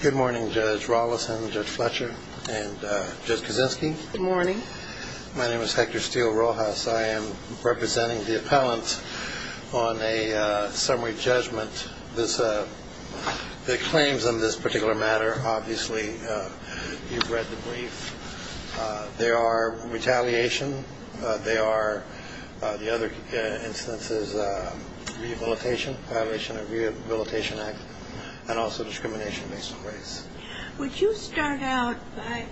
Good morning, Judge Rollison, Judge Fletcher, and Judge Kaczynski. Good morning. My name is Hector Steele Rojas. I am representing the appellant on a summary judgment. The claims on this particular matter, obviously, you've read the brief. They are retaliation. They are, the other instances, rehabilitation, violation of the Rehabilitation Act, and also discrimination based on race. Would you start out by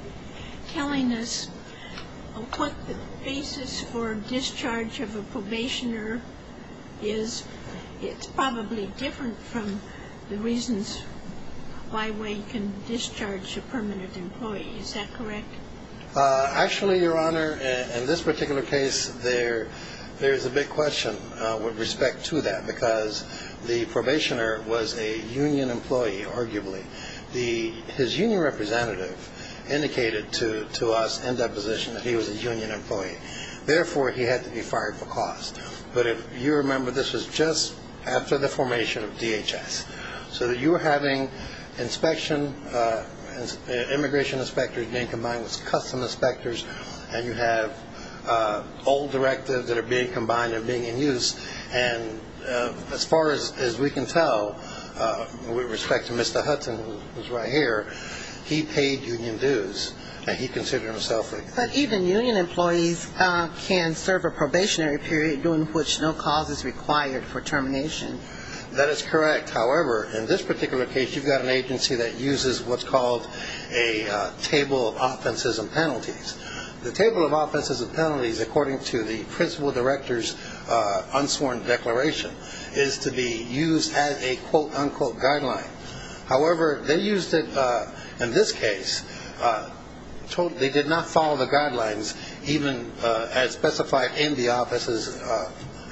telling us what the basis for discharge of a probationer is? Because it's probably different from the reasons why we can discharge a permanent employee. Is that correct? Actually, Your Honor, in this particular case, there is a big question with respect to that because the probationer was a union employee, arguably. His union representative indicated to us in that position that he was a union employee. Therefore, he had to be fired for cause. But if you remember, this was just after the formation of DHS. So you were having immigration inspectors being combined with custom inspectors, and you have old directives that are being combined and being in use. And as far as we can tell, with respect to Mr. Hudson, who is right here, he paid union dues, and he considered himself a union employee. But even union employees can serve a probationary period during which no cause is required for termination. That is correct. However, in this particular case, you've got an agency that uses what's called a table of offenses and penalties. The table of offenses and penalties, according to the principal director's unsworn declaration, is to be used as a quote-unquote guideline. However, they used it in this case. They did not follow the guidelines even as specified in the offices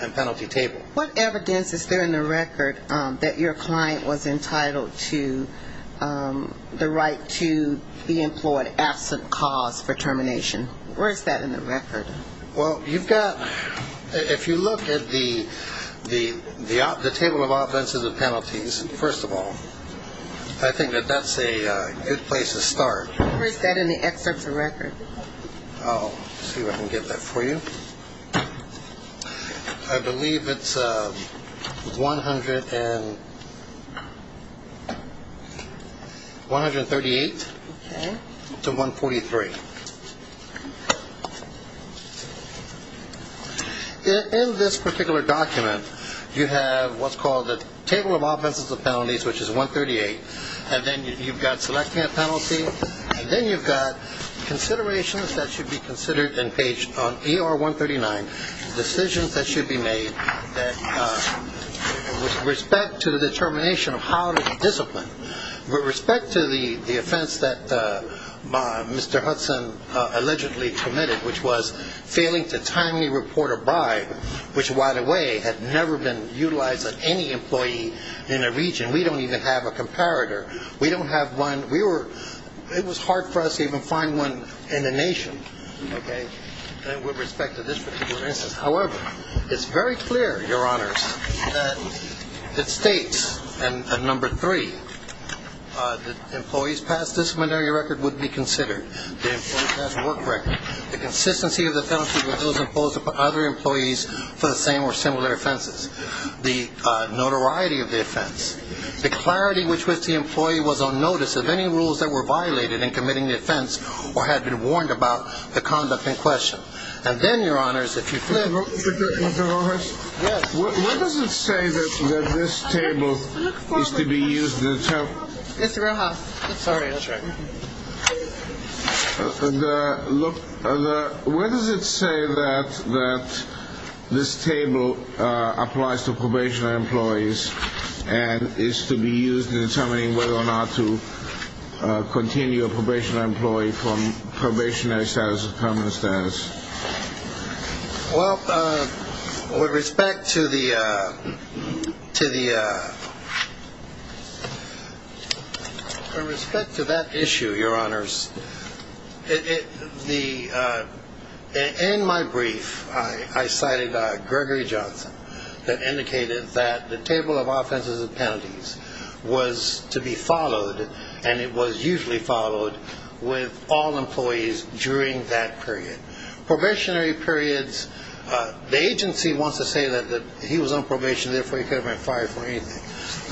and penalty table. What evidence is there in the record that your client was entitled to the right to be employed absent cause for termination? Where is that in the record? Well, you've got – if you look at the table of offenses and penalties, first of all, I think that that's a good place to start. Where is that in the excerpts of record? Let's see if I can get that for you. I believe it's 138 to 143. In this particular document, you have what's called a table of offenses and penalties, which is 138. And then you've got selecting a penalty. And then you've got considerations that should be considered on page ER-139, decisions that should be made with respect to the determination of how to discipline. With respect to the offense that Mr. Hudson allegedly committed, which was failing to timely report a buy, which right away had never been utilized on any employee in a region. We don't even have a comparator. We don't have one. We were – it was hard for us to even find one in the nation, okay, with respect to this particular instance. However, it's very clear, Your Honors, that it states, number three, that employees past disciplinary record would be considered. The employees past work record. The consistency of the penalties with those imposed upon other employees for the same or similar offenses. The notoriety of the offense. The clarity with which the employee was on notice of any rules that were violated in committing the offense or had been warned about the conduct in question. And then, Your Honors, if you flip – Mr. Rojas? Yes. Where does it say that this table is to be used – Mr. Rojas. Sorry. That's all right. Look, where does it say that this table applies to probationary employees and is to be used in determining whether or not to continue a probationary employee from probationary status or permanent status? Well, with respect to the – with respect to that issue, Your Honors, in my brief I cited Gregory Johnson that indicated that the table of offenses and penalties was to be followed and it was usually followed with all employees during that period. Probationary periods, the agency wants to say that he was on probation, therefore he could have been fired for anything.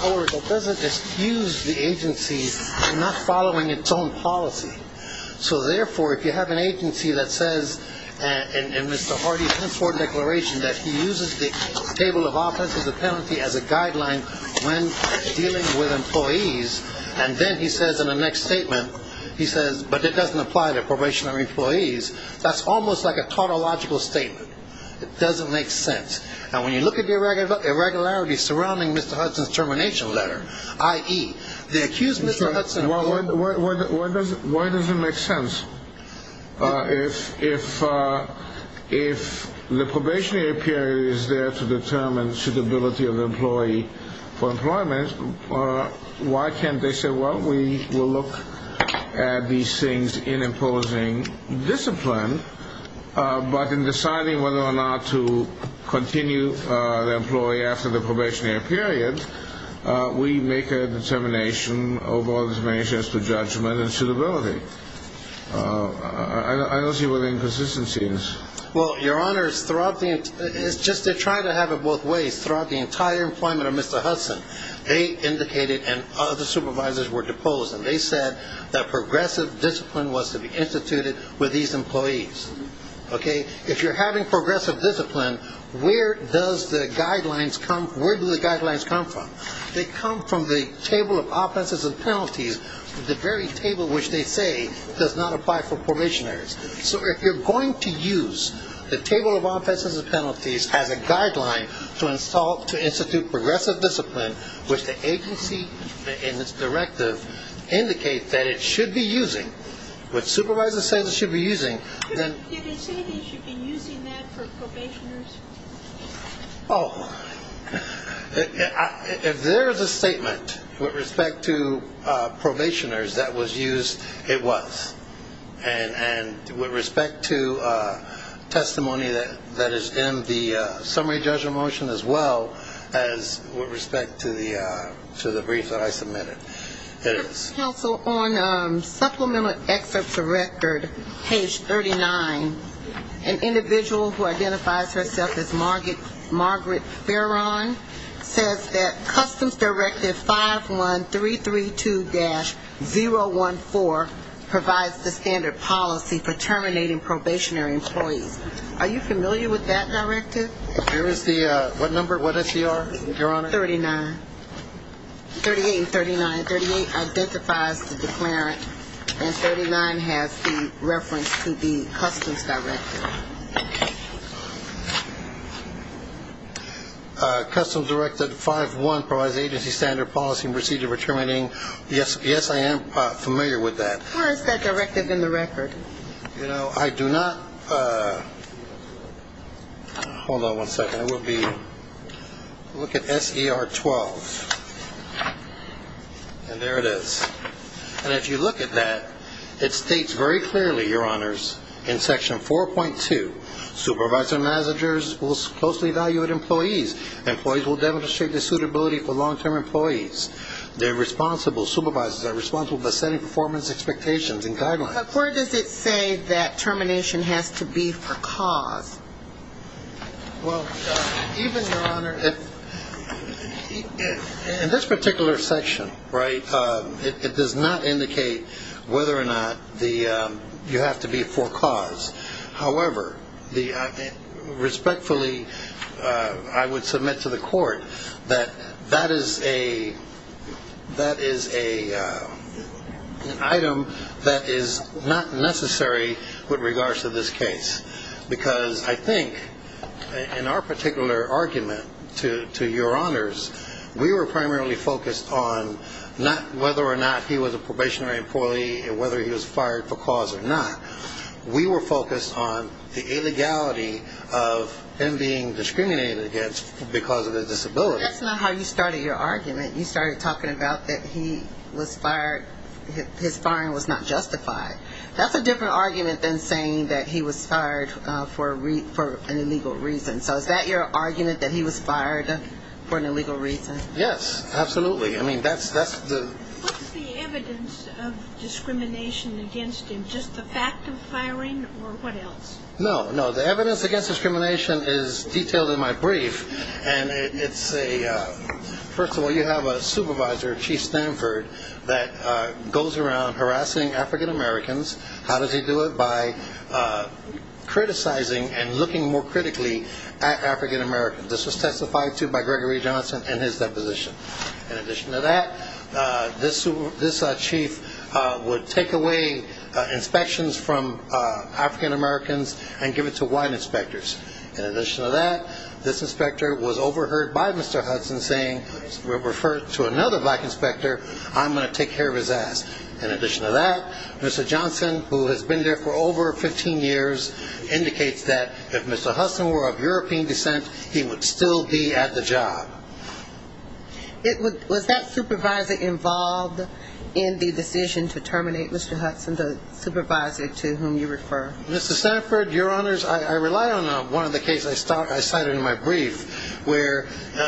However, it doesn't excuse the agency from not following its own policy. So, therefore, if you have an agency that says in Mr. Hardy's henceforth declaration that he uses the table of offenses and penalties as a guideline when dealing with employees and then he says in the next statement, he says, but it doesn't apply to probationary employees, that's almost like a tautological statement. It doesn't make sense. And when you look at the irregularities surrounding Mr. Hudson's termination letter, i.e., the accused Mr. Hudson – Why does it make sense? If the probationary period is there to determine suitability of the employee for employment, why can't they say, well, we will look at these things in imposing discipline, but in deciding whether or not to continue the employee after the probationary period, we make a determination of all these measures to judgment and suitability. I don't see what the inconsistency is. Well, Your Honors, throughout the – it's just they're trying to have it both ways. Throughout the entire employment of Mr. Hudson, they indicated and other supervisors were deposed, and they said that progressive discipline was to be instituted with these employees. Okay? If you're having progressive discipline, where do the guidelines come from? They come from the Table of Offenses and Penalties, the very table which they say does not apply for probationaries. So if you're going to use the Table of Offenses and Penalties as a guideline to institute progressive discipline, which the agency in its directive indicates that it should be using, which supervisors say it should be using, then – Did it say he should be using that for probationaries? Oh, if there is a statement with respect to probationaries that was used, it was. And with respect to testimony that is in the summary judgment motion as well as with respect to the brief that I submitted, it is. On supplemental excerpts of record, page 39, an individual who identifies herself as Margaret Farron says that Customs Directive 51332-014 provides the standard policy for terminating probationary employees. Are you familiar with that directive? Here is the – what number, what SDR, Your Honor? 39. 38 and 39. 38 identifies the declarant and 39 has the reference to the Customs Directive. Customs Directive 5-1 provides agency standard policy and procedure for terminating. Yes, I am familiar with that. Where is that directive in the record? You know, I do not – hold on one second. It would be – look at SDR 12. And there it is. And if you look at that, it states very clearly, Your Honors, in section 4.2, supervisor managers will closely evaluate employees. Employees will demonstrate their suitability for long-term employees. Their responsible supervisors are responsible for setting performance expectations and guidelines. But where does it say that termination has to be for cause? Well, even, Your Honor, in this particular section, right, it does not indicate whether or not the – you have to be for cause. However, the – respectfully, I would submit to the court that that is a – that is an item that is not necessary with regards to this case because I think in our particular argument to Your Honors, we were primarily focused on not – whether or not he was a probationary employee and whether he was fired for cause or not. We were focused on the illegality of him being discriminated against because of his disability. That is not how you started your argument. You started talking about that he was fired – his firing was not justified. That's a different argument than saying that he was fired for an illegal reason. So is that your argument, that he was fired for an illegal reason? Yes, absolutely. I mean, that's the – What's the evidence of discrimination against him? Just the fact of firing or what else? No, no, the evidence against discrimination is detailed in my brief. And it's a – first of all, you have a supervisor, Chief Stanford, that goes around harassing African-Americans. How does he do it? By criticizing and looking more critically at African-Americans. This was testified to by Gregory Johnson in his deposition. In addition to that, this chief would take away inspections from African-Americans and give it to white inspectors. In addition to that, this inspector was overheard by Mr. Hudson saying – if you refer to another black inspector, I'm going to take care of his ass. In addition to that, Mr. Johnson, who has been there for over 15 years, indicates that if Mr. Hudson were of European descent, he would still be at the job. Was that supervisor involved in the decision to terminate Mr. Hudson, the supervisor to whom you refer? Mr. Stanford, Your Honors, I rely on one of the cases I cited in my brief, where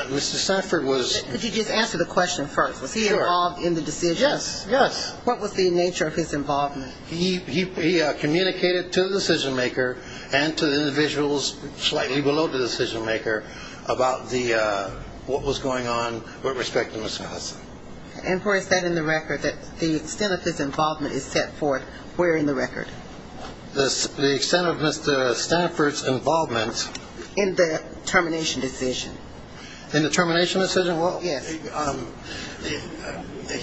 Mr. Stanford was – Could you just answer the question first? Was he involved in the decision? Yes, yes. What was the nature of his involvement? He communicated to the decision-maker and to the individuals slightly below the decision-maker about what was going on with respect to Mr. Hudson. And was that in the record that the extent of his involvement is set forth? Where in the record? The extent of Mr. Stanford's involvement – In the termination decision. In the termination decision? Yes.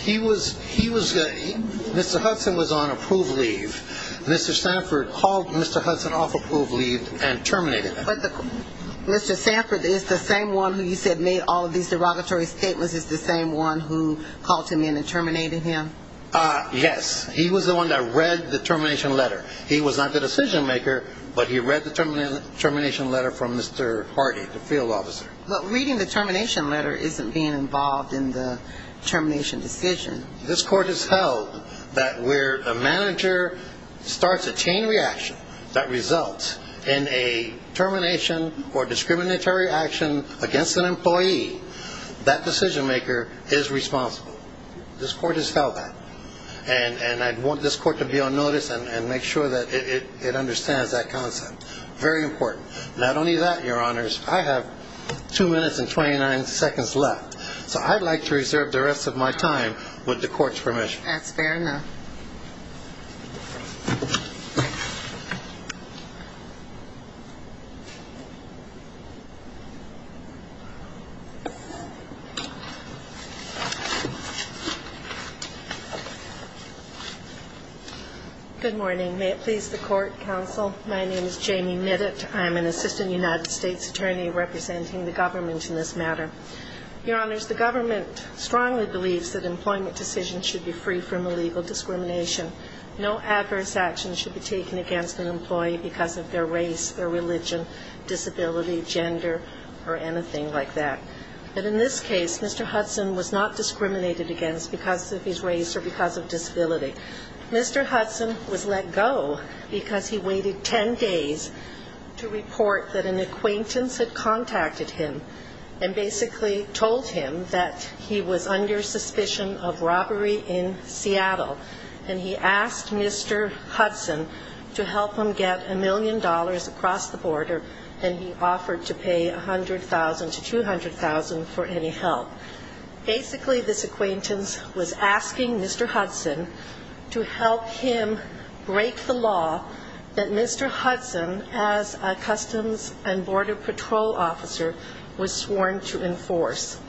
He was – Mr. Hudson was on approved leave. Mr. Stanford called Mr. Hudson off approved leave and terminated him. But Mr. Stanford is the same one who you said made all of these derogatory statements, is the same one who called him in and terminated him? Yes. He was the one that read the termination letter. He was not the decision-maker, but he read the termination letter from Mr. Hardy, the field officer. But reading the termination letter isn't being involved in the termination decision. This court has held that where a manager starts a chain reaction that results in a termination or discriminatory action against an employee, that decision-maker is responsible. This court has held that. And I want this court to be on notice and make sure that it understands that concept. Very important. Not only that, Your Honors, I have 2 minutes and 29 seconds left, so I'd like to reserve the rest of my time with the court's permission. That's fair enough. Good morning. May it please the court, counsel. My name is Jamie Nittitt. I'm an assistant United States attorney representing the government in this matter. Your Honors, the government strongly believes that employment decisions should be free from illegal discrimination. No adverse actions should be taken against an employee because of their race, their religion, disability, gender, or anything like that. But in this case, Mr. Hudson was not discriminated against because of his race or because of disability. Mr. Hudson was let go because he waited 10 days to report that an acquaintance had contacted him and basically told him that he was under suspicion of robbery in Seattle. And he asked Mr. Hudson to help him get $1 million across the border, and he offered to pay $100,000 to $200,000 for any help. Basically, this acquaintance was asking Mr. Hudson to help him break the law that Mr. Hudson, as a Customs and Border Patrol officer, was sworn to enforce.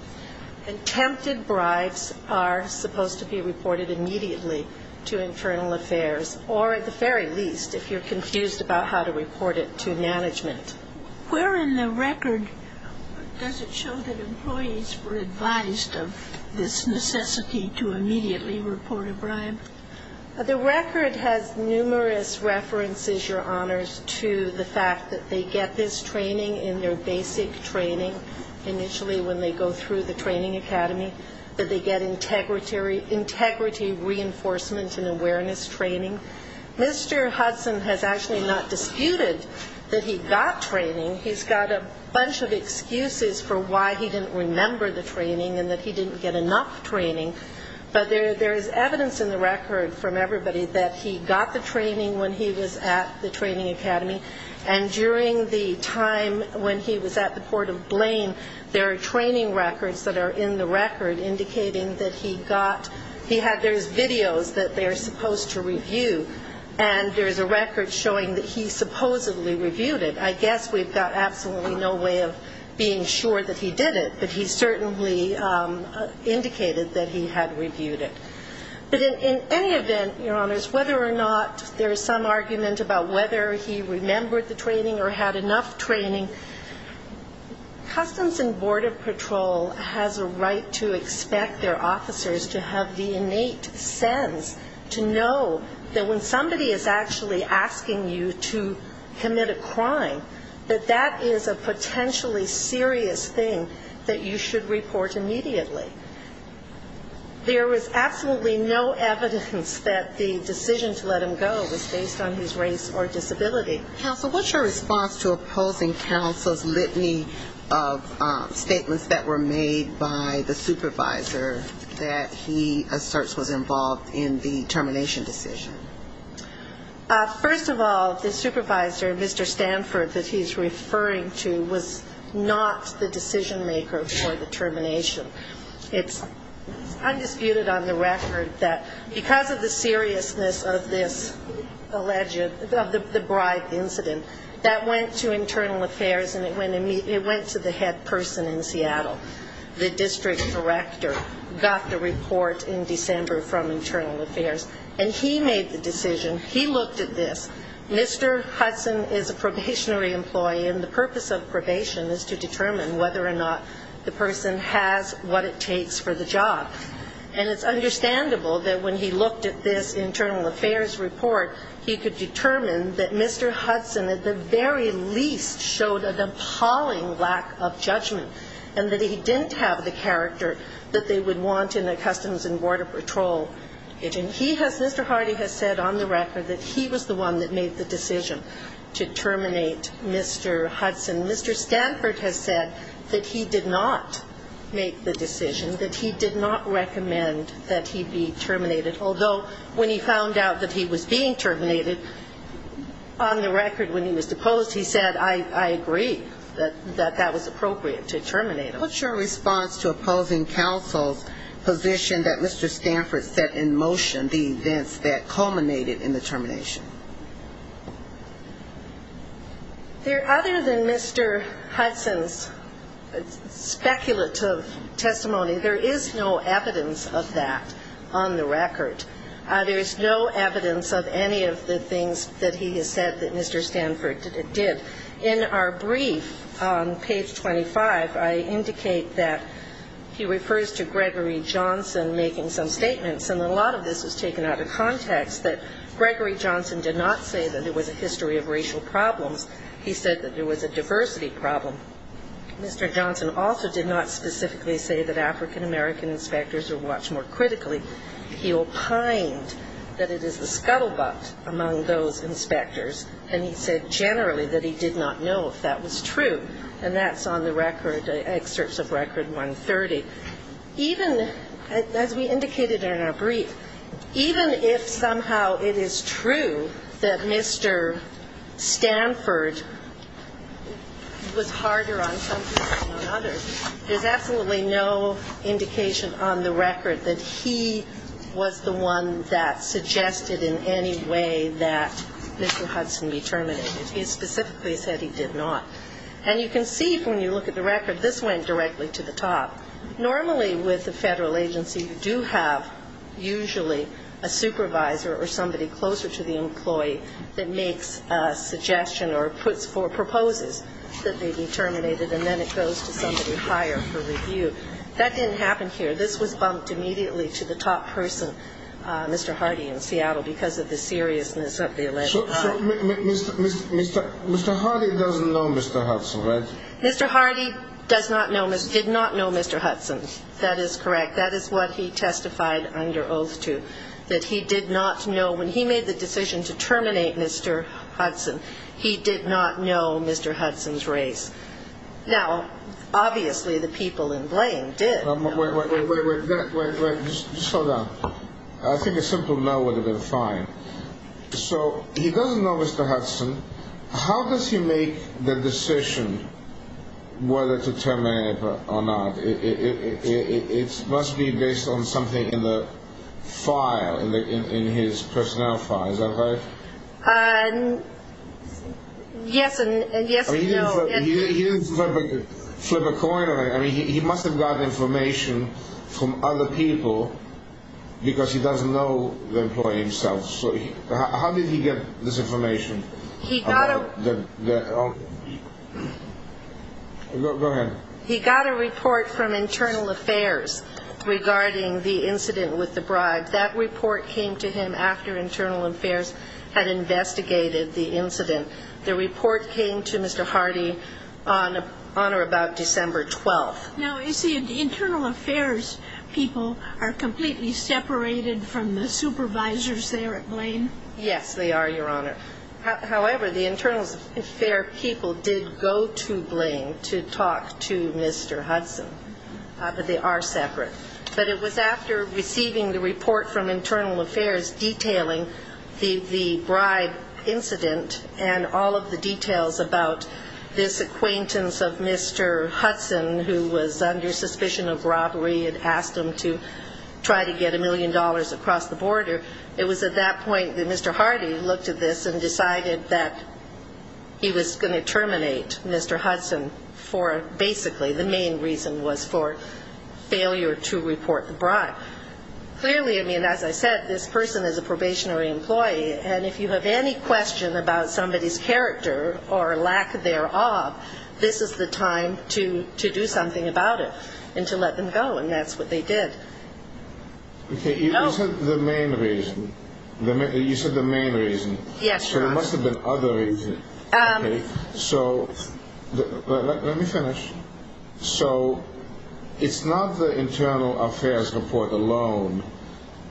And tempted bribes are supposed to be reported immediately to Internal Affairs, or at the very least, if you're confused about how to report it, to management. Where in the record does it show that employees were advised of this necessity to immediately report a bribe? The record has numerous references, Your Honors, to the fact that they get this training in their basic training, initially when they go through the training academy, that they get integrity reinforcement and awareness training. Mr. Hudson has actually not disputed that he got training. He's got a bunch of excuses for why he didn't remember the training and that he didn't get enough training. But there is evidence in the record from everybody that he got the training when he was at the training academy. And during the time when he was at the Port of Blaine, there are training records that are in the record indicating that he got ñ there's videos that they're supposed to review, and there's a record showing that he supposedly reviewed it. I guess we've got absolutely no way of being sure that he did it, but he certainly indicated that he had reviewed it. But in any event, Your Honors, whether or not there is some argument about whether he remembered the training or had enough training, Customs and Border Patrol has a right to expect their officers to have the innate sense to know that when somebody is actually asking you to commit a crime, that that is a potentially serious thing that you should report immediately. There is absolutely no evidence that the decision to let him go was based on his race or disability. Counsel, what's your response to opposing counsel's litany of statements that were made by the supervisor that he asserts was involved in the termination decision? First of all, the supervisor, Mr. Stanford, that he's referring to, was not the decision maker for the termination. It's undisputed on the record that because of the seriousness of this alleged, of the bribe incident, that went to Internal Affairs and it went to the head person in Seattle. The district director got the report in December from Internal Affairs. And he made the decision, he looked at this, Mr. Hudson is a probationary employee, and the purpose of probation is to determine whether or not the person has what it takes for the job. And it's understandable that when he looked at this Internal Affairs report, he could determine that Mr. Hudson at the very least showed an appalling lack of judgment, and that he didn't have the character that they would want in a Customs and Border Patrol. And he has, Mr. Hardy has said on the record that he was the one that made the decision to terminate Mr. Hudson. Mr. Stanford has said that he did not make the decision, that he did not recommend that he be terminated, although when he found out that he was being terminated, on the record when he was deposed, he said, I agree, that that was appropriate to terminate him. What's your response to opposing counsel's position that Mr. Stanford set in motion the events that culminated in the termination? There, other than Mr. Hudson's speculative testimony, there is no evidence of that on the record. There is no evidence of any of the things that he has said that Mr. Stanford did. In our brief on page 25, I indicate that he refers to Gregory Johnson making some statements, and a lot of this was taken out of context, that Gregory Johnson did not say that there was a history of racial problems. He said that there was a diversity problem. Mr. Johnson also did not specifically say that African-American inspectors are watched more critically. He opined that it is the scuttlebutt among those inspectors, and he said generally that he did not know if that was true. And that's on the record, excerpts of record 130. Even, as we indicated in our brief, even if somehow it is true that Mr. Stanford was harder on some people than on others, there's absolutely no indication on the record that he was the one that suggested in any way that Mr. Hudson be terminated. He specifically said he did not. And you can see, when you look at the record, this went directly to the top. Normally, with a Federal agency, you do have usually a supervisor or somebody closer to the employee that makes a suggestion or proposes that they be terminated, and then it goes to somebody higher for review. That didn't happen here. This was bumped immediately to the top person, Mr. Hardy in Seattle, because of the seriousness of the election. So Mr. Hardy doesn't know Mr. Hudson, right? Mr. Hardy did not know Mr. Hudson. That is correct. That is what he testified under oath to, that he did not know. When he made the decision to terminate Mr. Hudson, he did not know Mr. Hudson's race. Now, obviously, the people in blame did. Wait, wait, wait. Just hold on. I think a simple no would have been fine. So he doesn't know Mr. Hudson. How does he make the decision whether to terminate or not? It must be based on something in the file, in his personnel file, is that right? Yes and no. He didn't flip a coin or anything. He must have gotten information from other people because he doesn't know the employee himself. How did he get this information? Go ahead. He got a report from Internal Affairs regarding the incident with the bribes. That report came to him after Internal Affairs had investigated the incident. The report came to Mr. Hardy on or about December 12th. Now, is the Internal Affairs people completely separated from the supervisors there at Blaine? Yes, they are, Your Honor. However, the Internal Affairs people did go to Blaine to talk to Mr. Hudson, but they are separate. But it was after receiving the report from Internal Affairs detailing the bribe incident and all of the details about this acquaintance of Mr. Hudson who was under suspicion of robbery and asked him to try to get a million dollars across the border. It was at that point that Mr. Hardy looked at this and decided that he was going to terminate Mr. Hudson for basically the main reason was for failure to report the bribe. Clearly, as I said, this person is a probationary employee, and if you have any question about somebody's character or lack thereof, this is the time to do something about it and to let them go, and that's what they did. Okay, you said the main reason. Yes, Your Honor. So it's not the Internal Affairs report alone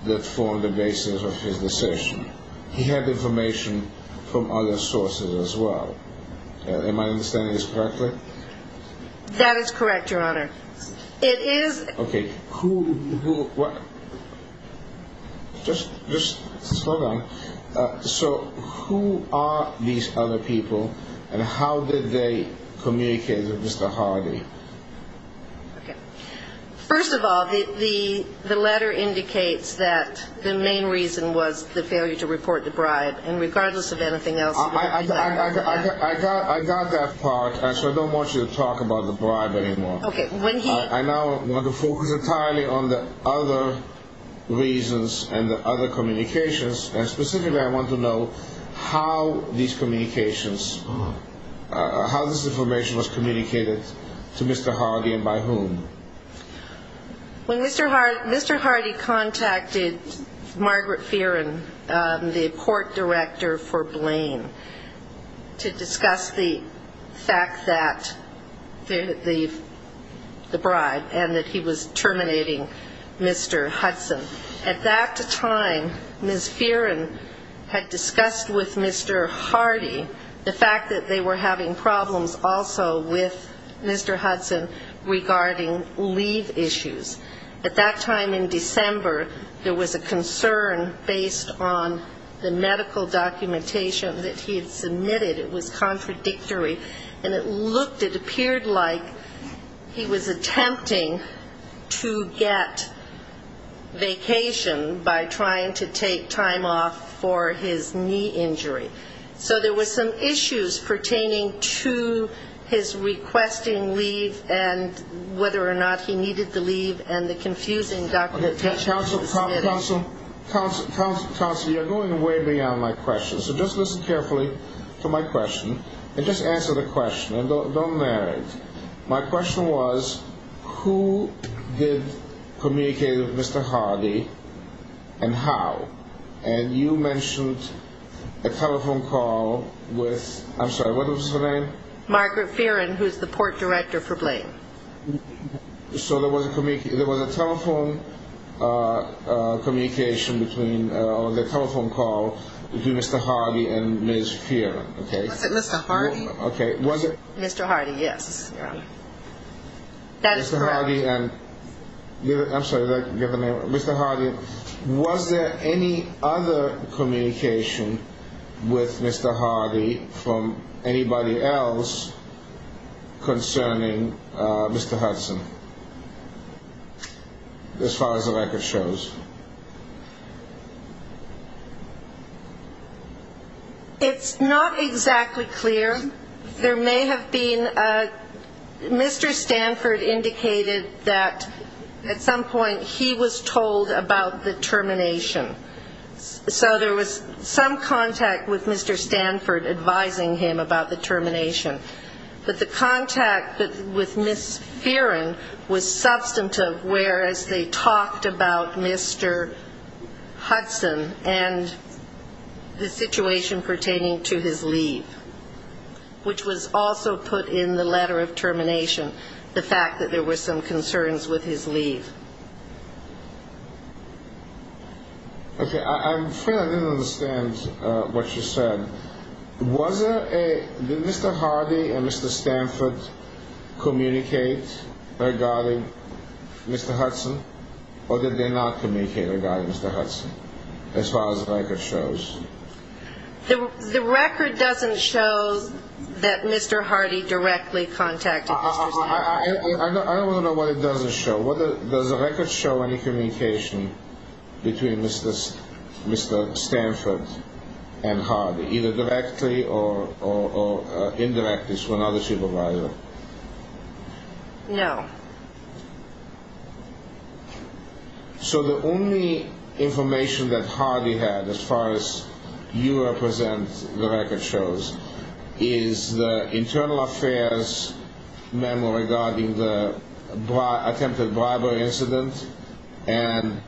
that formed the basis of his decision. He had information from other sources as well. Am I understanding this correctly? That is correct, Your Honor. Okay, just hold on. So who are these other people, and how did they communicate with Mr. Hardy? First of all, the letter indicates that the main reason was the failure to report the bribe, and regardless of anything else... I got that part, so I don't want you to talk about the bribe anymore. I now want to focus entirely on the other reasons and the other communications, and specifically I want to know how this information was communicated to Mr. Hardy and by whom. When Mr. Hardy contacted Margaret Fearon, the court director for Blaine, to discuss the fact that the bribe and that he was terminating Mr. Hudson, at that time Ms. Fearon had discussed with Mr. Hardy the fact that they were having problems also with Mr. Hudson regarding leave issues. At that time in December, there was a concern based on the medical documentation that he had submitted, it was contradictory, and it looked, it appeared like he was attempting to get vacation by trying to take time off for his knee injury. So there were some issues pertaining to his requesting leave and whether or not he needed to leave, and the confusing documentation. Counsel, you're going way beyond my question, so just listen carefully to my question, and just answer the question, and don't narrate. My question was, who did communicate with Mr. Hardy, and how? And you mentioned a telephone call with, I'm sorry, what was his name? Margaret Fearon, who's the court director for Blaine. So there was a telephone communication between, or a telephone call between Mr. Hardy and Ms. Fearon. Was it Mr. Hardy? Mr. Hardy, yes. That is correct. Mr. Hardy, was there any other communication with Mr. Hardy from anybody else concerning Mr. Hudson, as far as the record shows? It's not exactly clear. There may have been, Mr. Stanford indicated that at some point he was told about the termination. So there was some contact with Mr. Stanford advising him about the termination. But the contact with Ms. Fearon was substantive, whereas they talked about Ms. Hudson, and the situation pertaining to his leave, which was also put in the letter of termination, the fact that there were some concerns with his leave. Okay, I'm afraid I didn't understand what you said. Did Mr. Hardy and Mr. Stanford communicate regarding Mr. Hudson, or did they not communicate? Did they not communicate regarding Mr. Hudson, as far as the record shows? The record doesn't show that Mr. Hardy directly contacted Mr. Stanford. I don't want to know what it doesn't show. Does the record show any communication between Mr. Stanford and Hardy, either directly or indirectly through another supervisor? No. So the only information that Hardy had, as far as you represent the record shows, is the internal affairs memo regarding the attempted bribery incident, and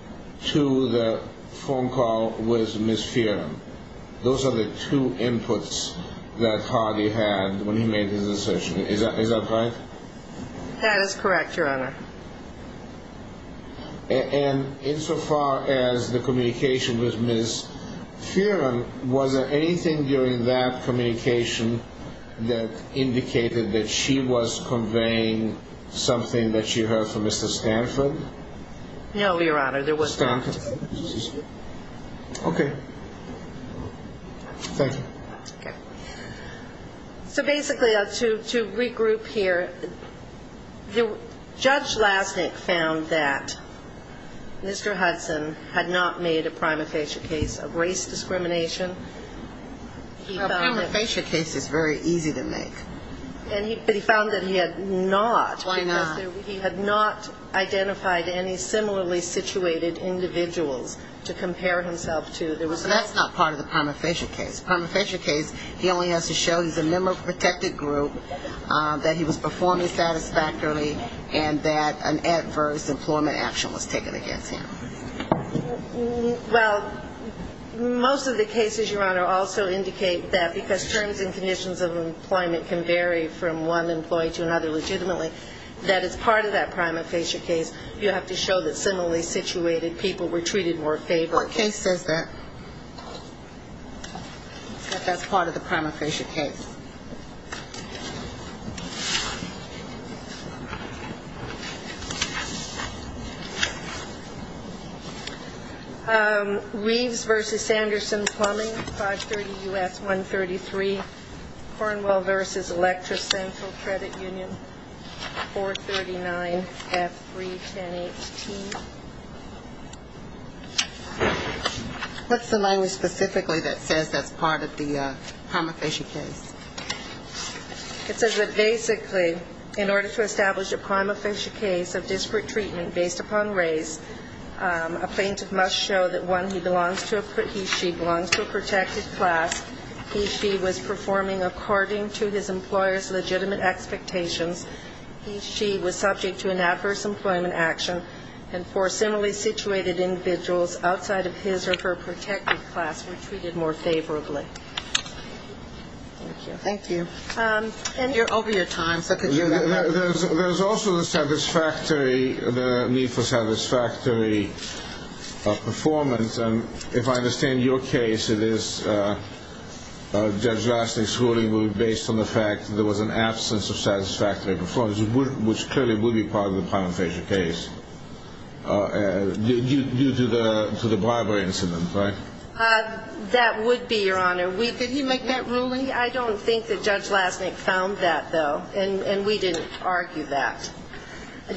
two, the phone call with Ms. Fearon. Those are the two inputs that Hardy had when he made his assertion. Is that correct? That is correct, Your Honor. And insofar as the communication with Ms. Fearon, was there anything during that communication that indicated that she was conveying something that she heard from Mr. Stanford? No, Your Honor, there was nothing. Okay. Thank you. So basically, to regroup here, Judge Lasnik found that Mr. Hudson had not made a prima facie case of race discrimination. A prima facie case is very easy to make. But he found that he had not. Why not? Because he had not identified any similarly situated individuals to compare himself to. Well, that's not part of the prima facie case. The prima facie case, he only has to show he's a member of a protected group, that he was performing satisfactorily, and that an adverse employment action was taken against him. Well, most of the cases, Your Honor, also indicate that, because terms and conditions of employment can vary from one employee to another legitimately, that as part of that prima facie case, you have to show that similarly situated people were treated more favorably. My case says that. But that's part of the prima facie case. Reeves v. Sanderson Plumbing, 530 U.S. 133. Cornwell v. Electra Central Credit Union, 439 F310HT. What's the language specifically that says that's part of the prima facie case? It says that basically, in order to establish a prima facie case of disparate treatment based upon race, a plaintiff must show that, one, he belongs to a he, she belongs to a protected class, he, she was performing according to his employer's legitimate expectations, he, she was subject to an adverse employment action, and four similarly situated individuals outside of his or her protected class were treated more favorably. Thank you. Over your time, sir, could you... There's also the satisfactory, the need for satisfactory performance. If I understand your case, it is Judge Lasnik's ruling based on the fact that there was an absence of satisfactory performance, which clearly would be part of the prima facie case due to the bribery incident, right? That would be, Your Honor. Did he make that ruling? I don't think that Judge Lasnik found that, though, and we didn't argue that. Do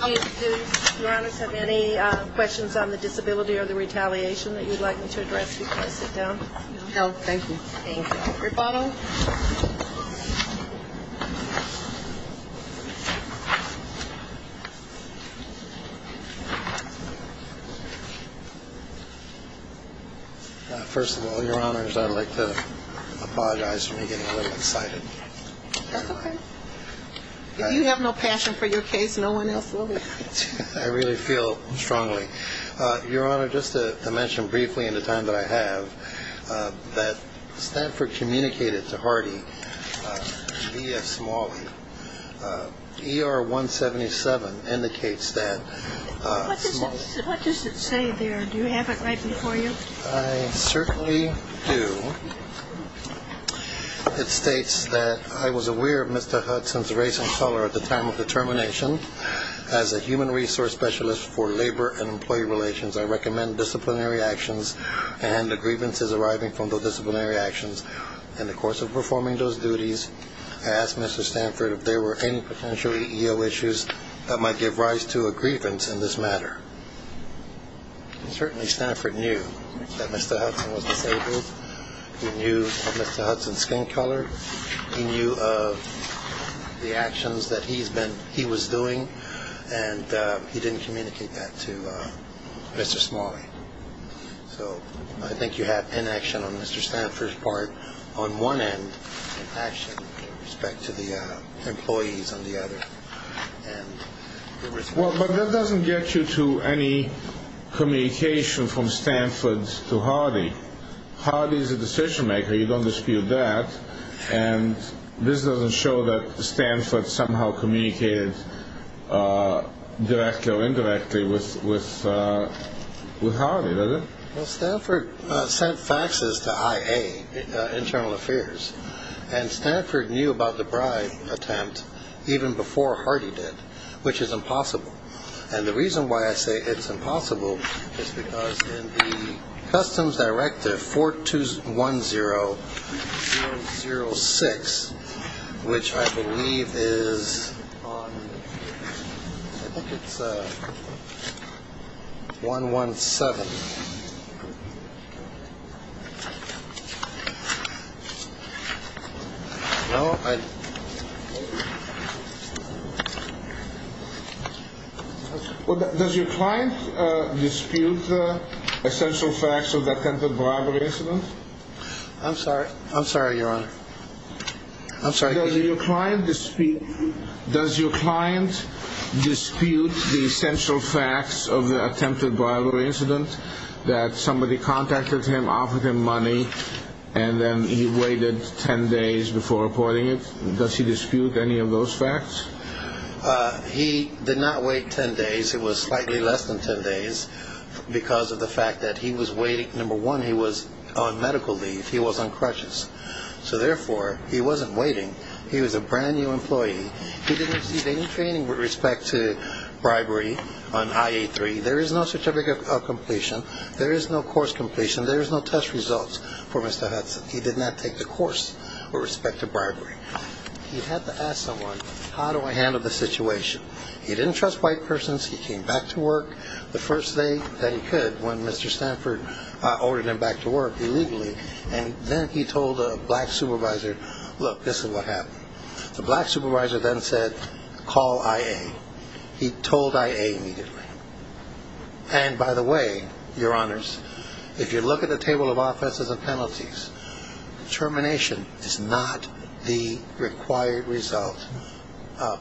Your Honors have any questions on the disability or the retaliation that you'd like me to address before I sit down? No, thank you. Thank you. First of all, Your Honors, I'd like to apologize for me getting a little excited. That's okay. If you have no passion for your case, no one else will. I really feel strongly. Your Honor, just to mention briefly in the time that I have, that Stanford communicated to Hardy via Smalley. ER-177 indicates that... What does it say there? Do you have it right before you? I certainly do. It states that I was aware of Mr. Hudson's race and color at the time of the termination. As a human resource specialist for labor and employee relations, I recommend disciplinary actions and the grievances arriving from those disciplinary actions. In the course of performing those duties, I asked Mr. Stanford if there were any potential EEO issues that might give rise to a grievance in this matter. Certainly Stanford knew that Mr. Hudson was disabled. He knew of Mr. Hudson's skin color. He knew of the actions that he was doing, and he didn't communicate that to Mr. Smalley. So I think you have inaction on Mr. Stanford's part on one end, and inaction with respect to the employees on the other. But that doesn't get you to any communication from Stanford to Hardy. Hardy is a decision-maker. You don't dispute that, and this doesn't show that Stanford somehow communicated directly or indirectly with Hardy, does it? Well, Stanford sent faxes to IA, Internal Affairs, and Stanford knew about the bribe attempt even before Hardy did, which is impossible. And the reason why I say it's impossible is because in the Customs Directive 4210-006, which I believe is on, I think it's 117. Does your client dispute essential facts of the attempted bribery incident? I'm sorry, Your Honor. Does your client dispute the essential facts of the attempted bribery incident, that somebody contacted him, offered him money, and then he waited 10 days before reporting it? Does he dispute any of those facts? He did not wait 10 days. It was slightly less than 10 days because of the fact that he was waiting. Number one, he was on medical leave. He was on crutches. So therefore, he wasn't waiting. He was a brand-new employee. He didn't receive any training with respect to bribery on IA-3. There is no certificate of completion. There is no course completion. There is no test results for Mr. Hudson. He did not take the course with respect to bribery. He had to ask someone, how do I handle the situation? He didn't trust white persons. He came back to work the first day that he could when Mr. Stanford ordered him back to work illegally, and then he told a black supervisor, look, this is what happened. The black supervisor then said, call IA. He told IA immediately. And by the way, Your Honors, if you look at the table of offenses and penalties, termination is not the required result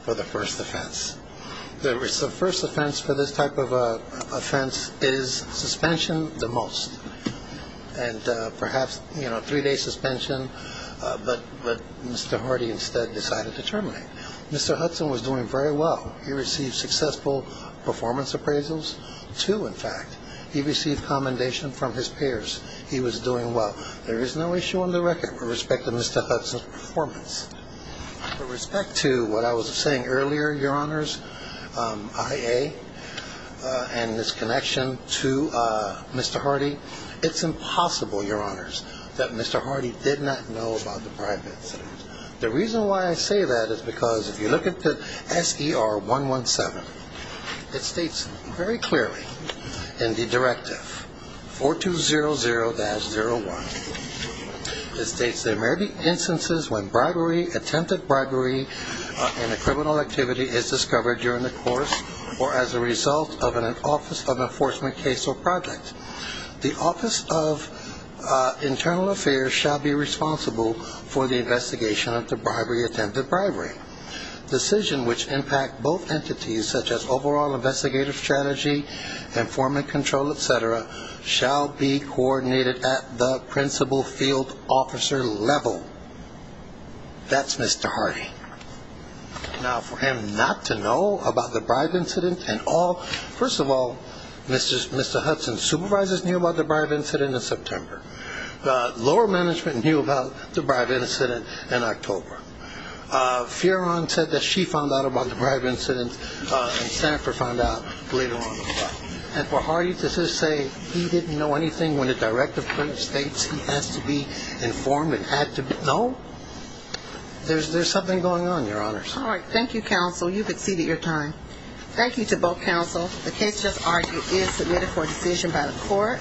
for the first offense. The first offense for this type of offense is suspension the most, and perhaps three-day suspension. But Mr. Hardy instead decided to terminate. Mr. Hudson was doing very well. He received successful performance appraisals too, in fact. He received commendation from his peers. He was doing well. There is no issue on the record with respect to Mr. Hudson's performance. With respect to what I was saying earlier, Your Honors, IA and this connection to Mr. Hardy, it's impossible, Your Honors, that Mr. Hardy did not know about the bribery incident. The reason why I say that is because if you look at the SER117, it states very clearly in the directive, 4200-01, it states there may be instances when attempted bribery in a criminal activity is discovered during the course or as a result of an Office of Enforcement case or project. The Office of Internal Affairs shall be responsible for the investigation of the attempted bribery. Decisions which impact both entities, such as overall investigative strategy, informant control, et cetera, shall be coordinated at the principal field officer level. That's Mr. Hardy. Now, for him not to know about the bribery incident at all, first of all, Mr. Hudson's supervisors knew about the bribery incident in September. Law management knew about the bribery incident in October. Fioran said that she found out about the bribery incident and staffer found out later on. And for Hardy, does this say he didn't know anything when the directive states he has to be informed and had to be? No. There's something going on, Your Honors. All right. Thank you, counsel. You've exceeded your time. Thank you to both counsel. The case just argued is submitted for a decision by the court.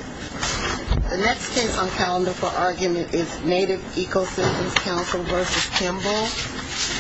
The next case on calendar for argument is Native Ecosystems Counsel v. Kimball.